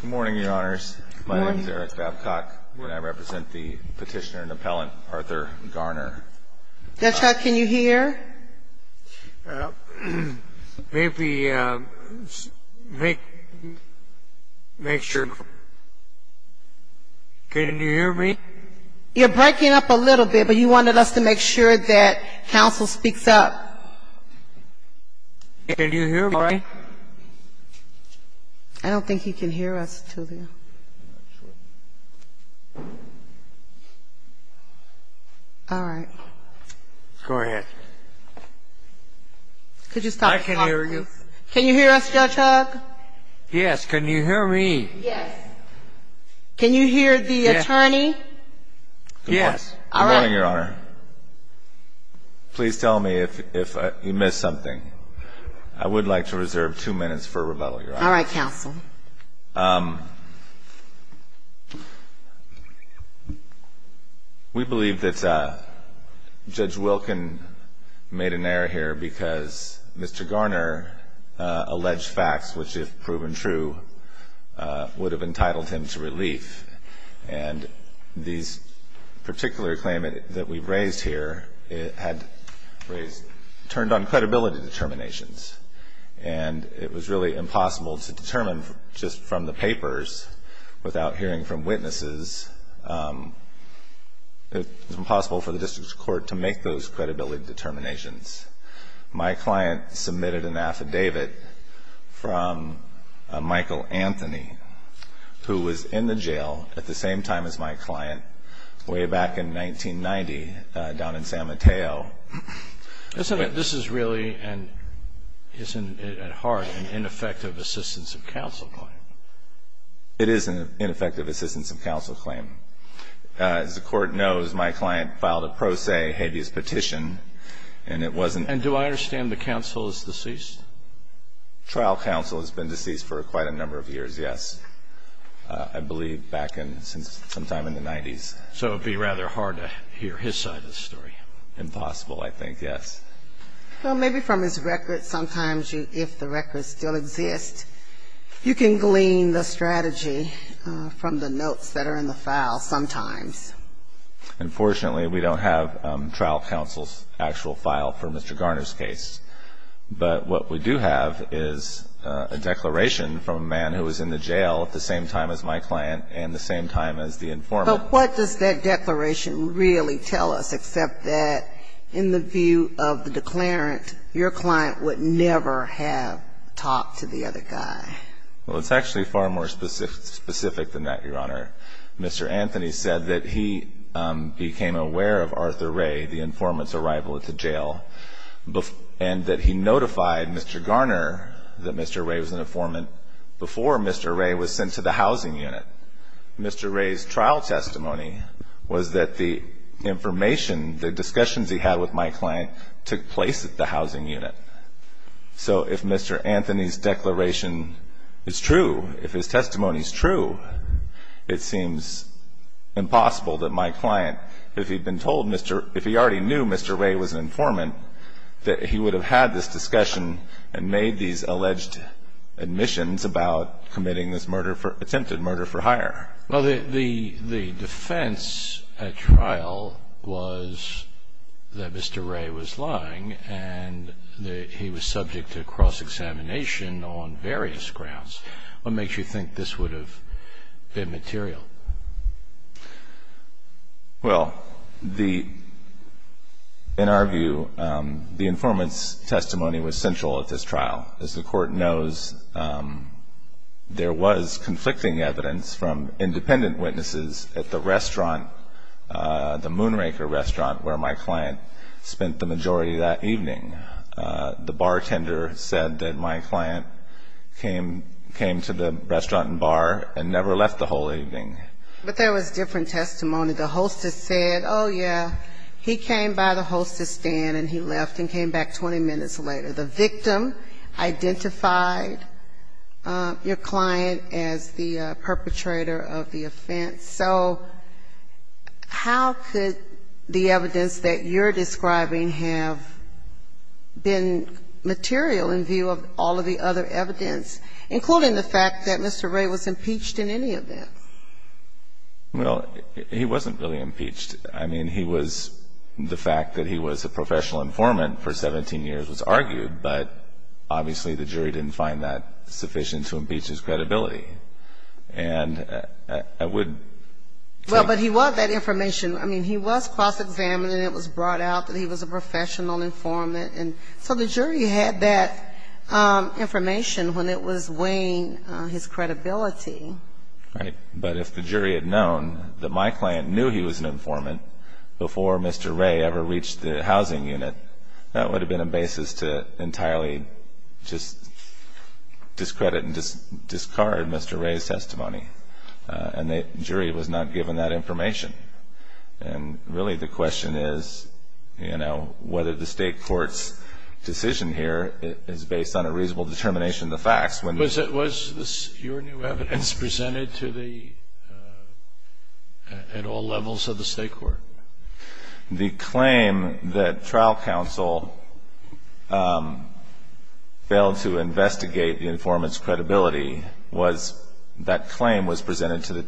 Good morning, Your Honors. My name is Eric Babcock, and I represent the petitioner and appellant, Arthur Garner. Judge, how can you hear? Maybe make sure. Can you hear me? You're breaking up a little bit, but you wanted us to make sure that counsel speaks up. Can you hear me? I don't think he can hear us, Tulio. All right. Go ahead. I can hear you. Can you hear us, Judge Hogg? Yes. Can you hear me? Can you hear the attorney? Yes. Good morning, Your Honor. Mr. Garner, please tell me if you missed something. I would like to reserve two minutes for rebuttal, Your Honor. All right, counsel. We believe that Judge Wilkin made an error here because Mr. Garner alleged facts which, if proven true, would have entitled him to relief. And this particular claim that we've raised here had turned on credibility determinations. And it was really impossible to determine just from the papers without hearing from witnesses. It was impossible for the district court to make those credibility determinations. My client submitted an affidavit from Michael Anthony, who was in the jail at the same time as my client way back in 1990 down in San Mateo. This is really, and isn't it at heart, an ineffective assistance of counsel claim? It is an ineffective assistance of counsel claim. As the Court knows, my client filed a pro se habeas petition, and it wasn't And do I understand the counsel is deceased? Trial counsel has been deceased for quite a number of years, yes. I believe back in sometime in the 90s. So it would be rather hard to hear his side of the story. Impossible, I think, yes. Well, maybe from his records sometimes, if the records still exist, you can glean the strategy from the notes that are in the file sometimes. Unfortunately, we don't have trial counsel's actual file for Mr. Garner's case. But what we do have is a declaration from a man who was in the jail at the same time as my client and the same time as the informant. But what does that declaration really tell us, except that in the view of the declarant, your client would never have talked to the other guy? Well, it's actually far more specific than that, Your Honor. Mr. Anthony said that he became aware of Arthur Ray, the informant's arrival at the jail, and that he notified Mr. Garner that Mr. Ray was an informant before Mr. Ray was sent to the housing unit. Mr. Ray's trial testimony was that the information, the discussions he had with my client, took place at the housing unit. So if Mr. Anthony's declaration is true, if his testimony is true, it seems impossible that my client, if he'd been told Mr. Ray, if he already knew Mr. Ray was an informant, that he would have had this discussion and made these alleged admissions about committing this attempted murder for hire. Well, the defense at trial was that Mr. Ray was lying and that he was subject to cross-examination on various grounds. What makes you think this would have been material? Well, in our view, the informant's testimony was central at this trial. As the Court knows, there was conflicting evidence from independent witnesses at the restaurant, the Moonraker restaurant, where my client spent the majority of that evening. The bartender said that my client came to the restaurant and bar and never left the whole evening. But there was different testimony. The hostess said, oh, yeah, he came by the hostess stand and he left and came back 20 minutes later. The victim identified your client as the perpetrator of the offense. So how could the evidence that you're describing have been material in view of all of the other evidence, including the fact that Mr. Ray was impeached in any of them? Well, he wasn't really impeached. I mean, the fact that he was a professional informant for 17 years was argued, but obviously the jury didn't find that sufficient to impeach his credibility. Well, but he was that information. I mean, he was cross-examined and it was brought out that he was a professional informant. So the jury had that information when it was weighing his credibility. Right. But if the jury had known that my client knew he was an informant before Mr. Ray ever reached the housing unit, that would have been a basis to entirely just discredit and discard Mr. Ray's testimony. And the jury was not given that information. And really the question is, you know, whether the state court's decision here is based on a reasonable determination of the facts. Was your new evidence presented at all levels of the state court? The claim that trial counsel failed to investigate the informant's credibility was that claim was presented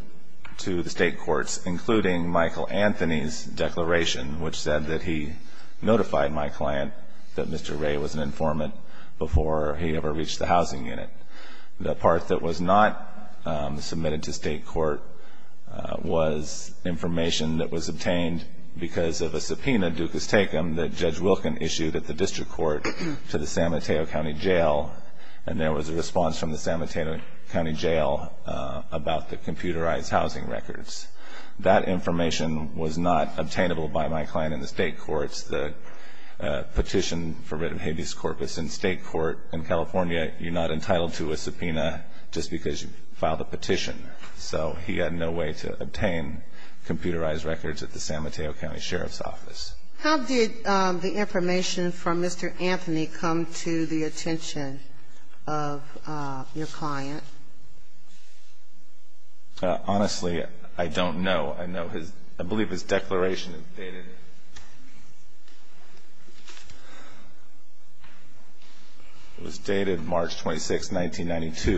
to the state courts, including Michael Anthony's declaration, which said that he notified my client that Mr. Ray was an informant before he ever reached the housing unit. The part that was not submitted to state court was information that was obtained because of a subpoena, ducus tecum, that Judge Wilken issued at the district court to the San Mateo County Jail. And there was a response from the San Mateo County Jail about the computerized housing records. That information was not obtainable by my client in the state courts. The petition for writ of habeas corpus in state court in California, you're not entitled to it. You're not entitled to a subpoena just because you filed a petition. So he had no way to obtain computerized records at the San Mateo County Sheriff's Office. How did the information from Mr. Anthony come to the attention of your client? Honestly, I don't know. I know his – I believe his declaration dated – it was dated March 26, 1986.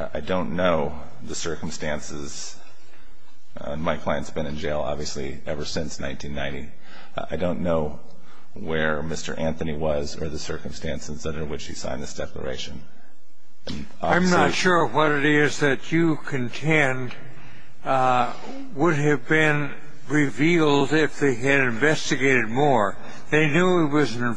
I don't know where Mr. Anthony was or the circumstances under which he signed this declaration. I'm not sure what it is that you contend would have been revealed to the public. Well, if Mr.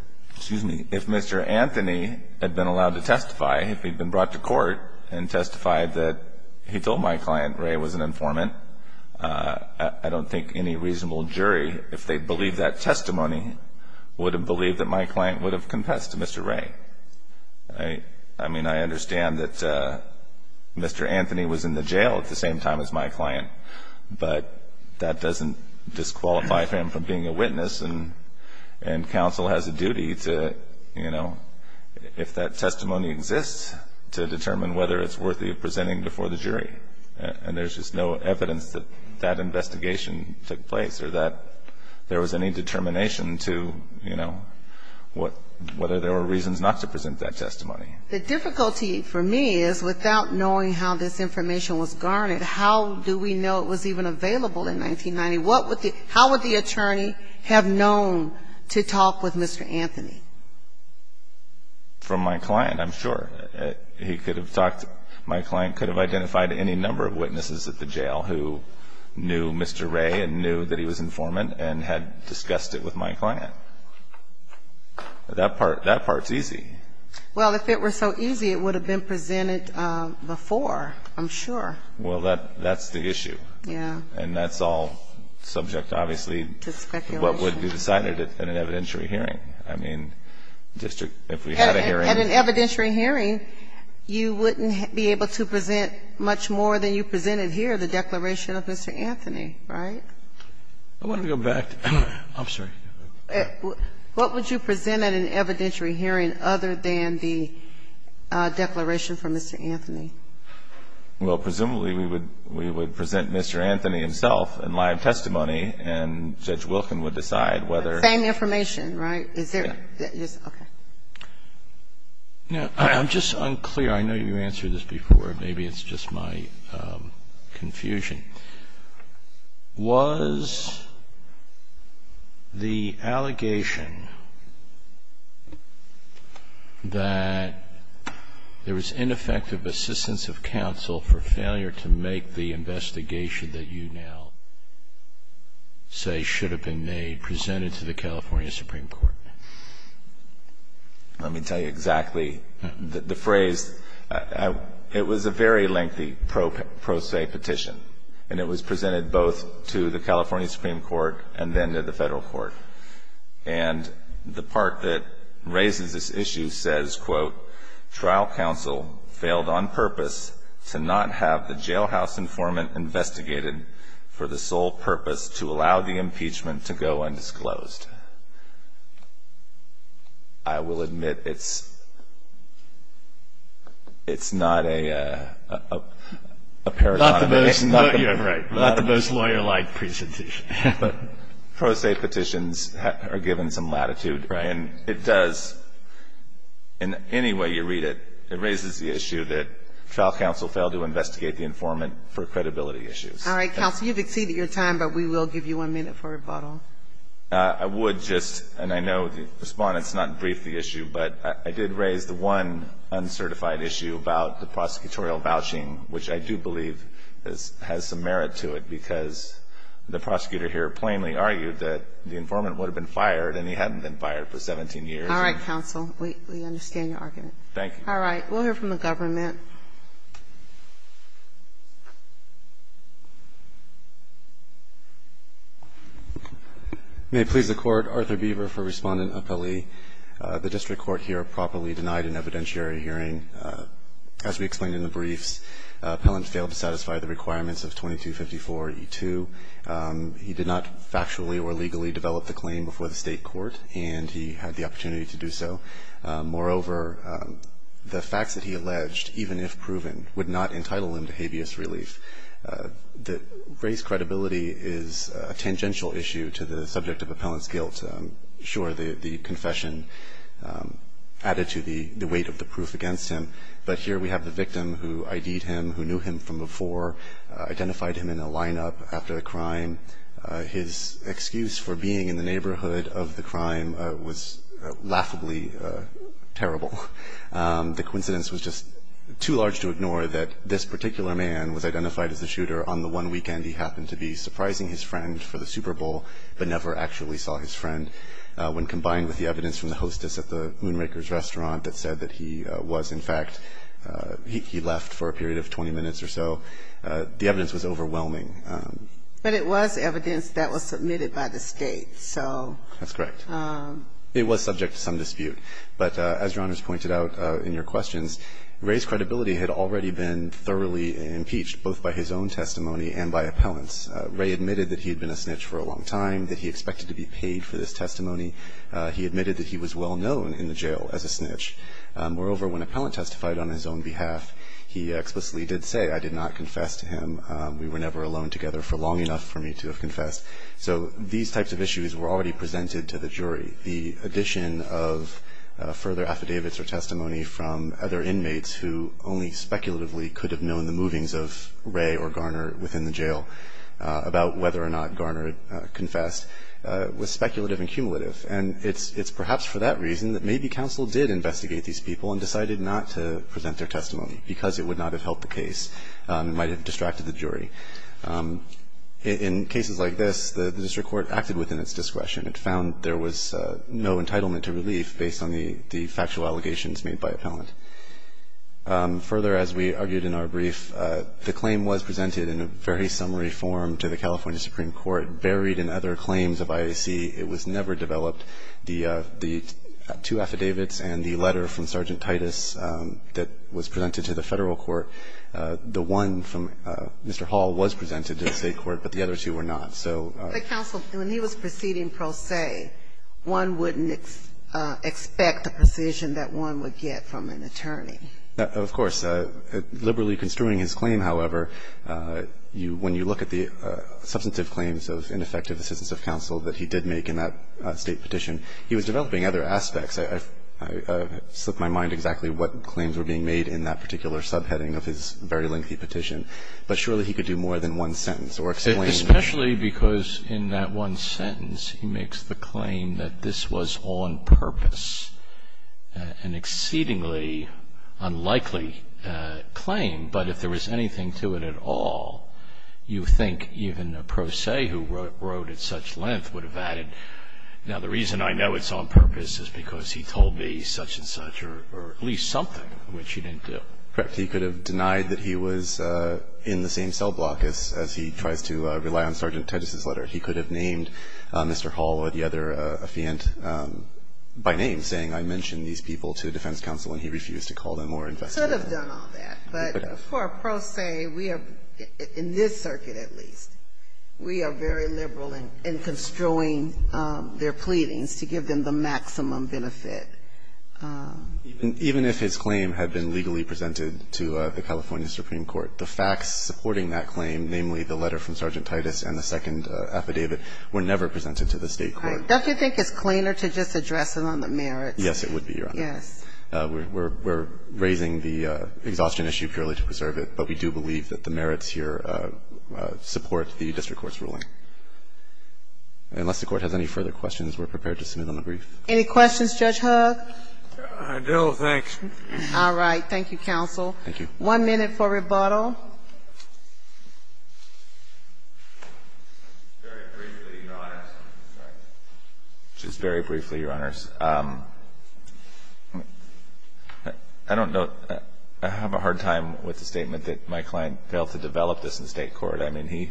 – excuse me – if Mr. Anthony had been allowed to testify, if he'd been brought to court and testified that he told my client Ray was an informant, I don't think it would have been revealed to the public. I mean, I understand that Mr. Anthony was in the jail at the same time as my client, but that doesn't disqualify him from being a witness, and counsel has a duty to, you know, if that testimony exists, to determine whether it's worthy of presenting before the jury. And there's just no evidence that that investigation took place or that there was any determination to, you know, whether there were reasons not to present that testimony. The difficulty for me is without knowing how this information was garnered, how do we know it was even available in 1990? How would the attorney have known to talk with Mr. Anthony? From my client, I'm sure. He could have talked – my client could have identified any number of witnesses at the jail who knew Mr. Ray and knew that he was informant and had discussed it with my client. That part's easy. Well, if it were so easy, it would have been presented before, I'm sure. Well, that's the issue. And that's all subject, obviously, to what would be decided at an evidentiary hearing. I mean, district, if we had a hearing... At an evidentiary hearing, you wouldn't be able to present much more than you presented here, the declaration of Mr. Anthony, right? I want to go back. I'm sorry. What would you present at an evidentiary hearing other than the declaration from Mr. Anthony? Well, presumably, we would present Mr. Anthony himself in live testimony, and Judge Wilken would decide whether... Same information, right? I'm just unclear. I know you answered this before. Maybe it's just my confusion. Was the allegation that there was ineffective assistance to Mr. Anthony, and the absence of counsel for failure to make the investigation that you now say should have been made, presented to the California Supreme Court? Let me tell you exactly the phrase. It was a very lengthy pro se petition, and it was presented both to the California Supreme Court and then to the federal court. And the part that raises this issue says, quote, trial counsel failed on purpose to not have the jailhouse informant investigated for the sole purpose to allow the impeachment to go undisclosed. I will admit it's not a... Not the most lawyer-like presentation. But pro se petitions are given some latitude. And it does, in any way you read it, it raises the issue that trial counsel failed to investigate the informant for credibility issues. All right, counsel, you've exceeded your time, but we will give you one minute for rebuttal. I would just, and I know the Respondent's not briefed the issue, but I did raise the one uncertified issue about the prosecutorial vouching, which I do believe has some merit to it, because the prosecutor here plainly argued that the informant would have been fired, and he hadn't been fired for 17 years. All right, counsel, we understand your argument. Thank you. All right. We'll hear from the government. May it please the Court, Arthur Beaver for Respondent Appellee. The district court here properly denied an evidentiary hearing. As we explained in the briefs, Appellant failed to satisfy the requirements of 2254E2. He did not factually or legally develop the claim before the State court, and he had the opportunity to do so. Moreover, the facts that he alleged, even if proven, would not entitle him to habeas relief. Race credibility is a tangential issue to the subject of Appellant's guilt. Sure, the confession added to the weight of the proof against him, but here we have the victim who ID'd him, who knew him from before, identified him in a lineup after the crime. His excuse for being in the neighborhood of the crime was laughably terrible. The coincidence was just too large to ignore that this particular man was identified as the shooter on the one weekend he happened to be surprising his friend for the Super Bowl, but never actually saw his friend, when combined with the evidence from the hostess at the Moonraker's restaurant that said that he was, in fact, he left for a period of 20 minutes or so. The evidence was overwhelming. But it was evidence that was submitted by the State, so... That's correct. It was subject to some dispute, but as Your Honors pointed out in your questions, race credibility had already been thoroughly impeached, both by his own testimony and by Appellant's. Ray admitted that he had been a snitch for a long time, that he expected to be paid for this testimony. He admitted that he was well-known in the jail as a snitch. Moreover, when Appellant testified on his own behalf, he explicitly did say, I did not confess to him, we were never alone together for long enough for me to have confessed. So these types of issues were already presented to the jury. The addition of further affidavits or testimony from other inmates who only speculatively could have known the movings of Ray or Garner within the jail about whether or not Garner confessed was speculative and cumulative. And it's perhaps for that reason that maybe counsel did investigate these people and decided not to present their testimony, because it would not have helped the case. It might have distracted the jury. In cases like this, the district court acted within its discretion. It found there was no entitlement to relief based on the factual allegations made by Appellant. Further, as we argued in our brief, the claim was presented in a very summary form to the California Supreme Court, buried in other claims of IAC. It was never developed. The two affidavits and the letter from Sergeant Titus that was presented to the Federal Court, the one from Mr. Hall was presented to the State court, but the other two were not. So the counsel, when he was proceeding pro se, one wouldn't expect the precision that one would get from an attorney. Of course. Liberally construing his claim, however, when you look at the substantive claims of ineffective assistance of counsel that he did make in that State petition, he was developing other aspects. I slipped my mind exactly what claims were being made in that particular subheading of his very lengthy petition. But surely he could do more than one sentence or explain. Especially because in that one sentence he makes the claim that this was on purpose, an exceedingly unlikely claim. But if there was anything to it at all, you think even a pro se who wrote at such length would have added, now the reason I know it's on purpose is because he told me such and such or at least something which he didn't do. Correct. He could have denied that he was in the same cell block as he tries to rely on Sergeant Titus' letter. He could have named Mr. Hall or the other affiant by name, saying I mentioned these people to defense counsel and he refused to call them or investigate. He could have done all that. But for a pro se, we are, in this circuit at least, we are very liberal in construing their pleadings to give them the maximum benefit. Even if his claim had been legally presented to the California Supreme Court, the facts supporting that claim, namely the letter from Sergeant Titus and the second affidavit, were never presented to the State court. Right. Don't you think it's cleaner to just address it on the merits? Yes, it would be, Your Honor. Yes. We're raising the exhaustion issue purely to preserve it, but we do believe that the merits here support the district court's ruling. Unless the Court has any further questions, we're prepared to submit them in brief. Any questions, Judge Hoog? No, thanks. All right. Thank you, counsel. Thank you. One minute for rebuttal. Just very briefly, Your Honors. I don't know. I have a hard time with the statement that my client failed to develop this in the State court. I mean, he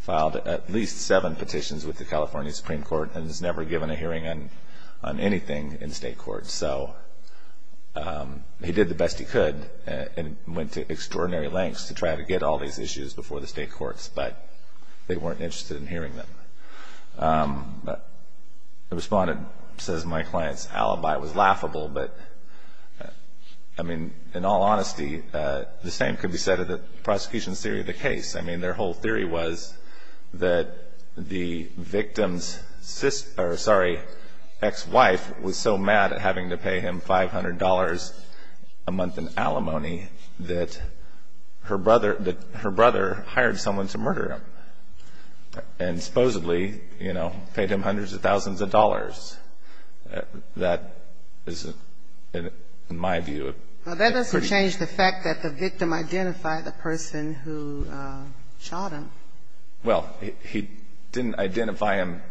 filed at least seven petitions with the California Supreme Court and has never given a hearing on anything in the State court. So he did the best he could and went to extraordinary lengths to try to get all these issues before the State courts, but they weren't interested in hearing them. The respondent says my client's alibi was laughable, but, I mean, in all honesty, the same could be said of the prosecution's theory of the case. I mean, their whole theory was that the victim's sister or, sorry, ex-wife was so mad at having to pay him $500 a month in alimony that her brother hired someone to murder him and supposedly, you know, paid him hundreds of thousands of dollars. That is, in my view, a pretty bad case. Well, he didn't identify him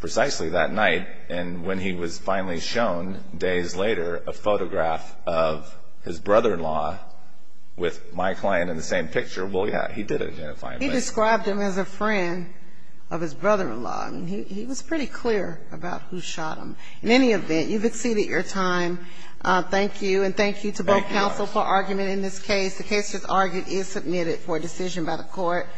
precisely that night, and when he was finally shown days later a photograph of his brother-in-law with my client in the same picture, well, yeah, he did identify him. He described him as a friend of his brother-in-law. I mean, he was pretty clear about who shot him. In any event, you've exceeded your time. Thank you, and thank you to both counsel for argument in this case. The case, as argued, is submitted for decision by the court.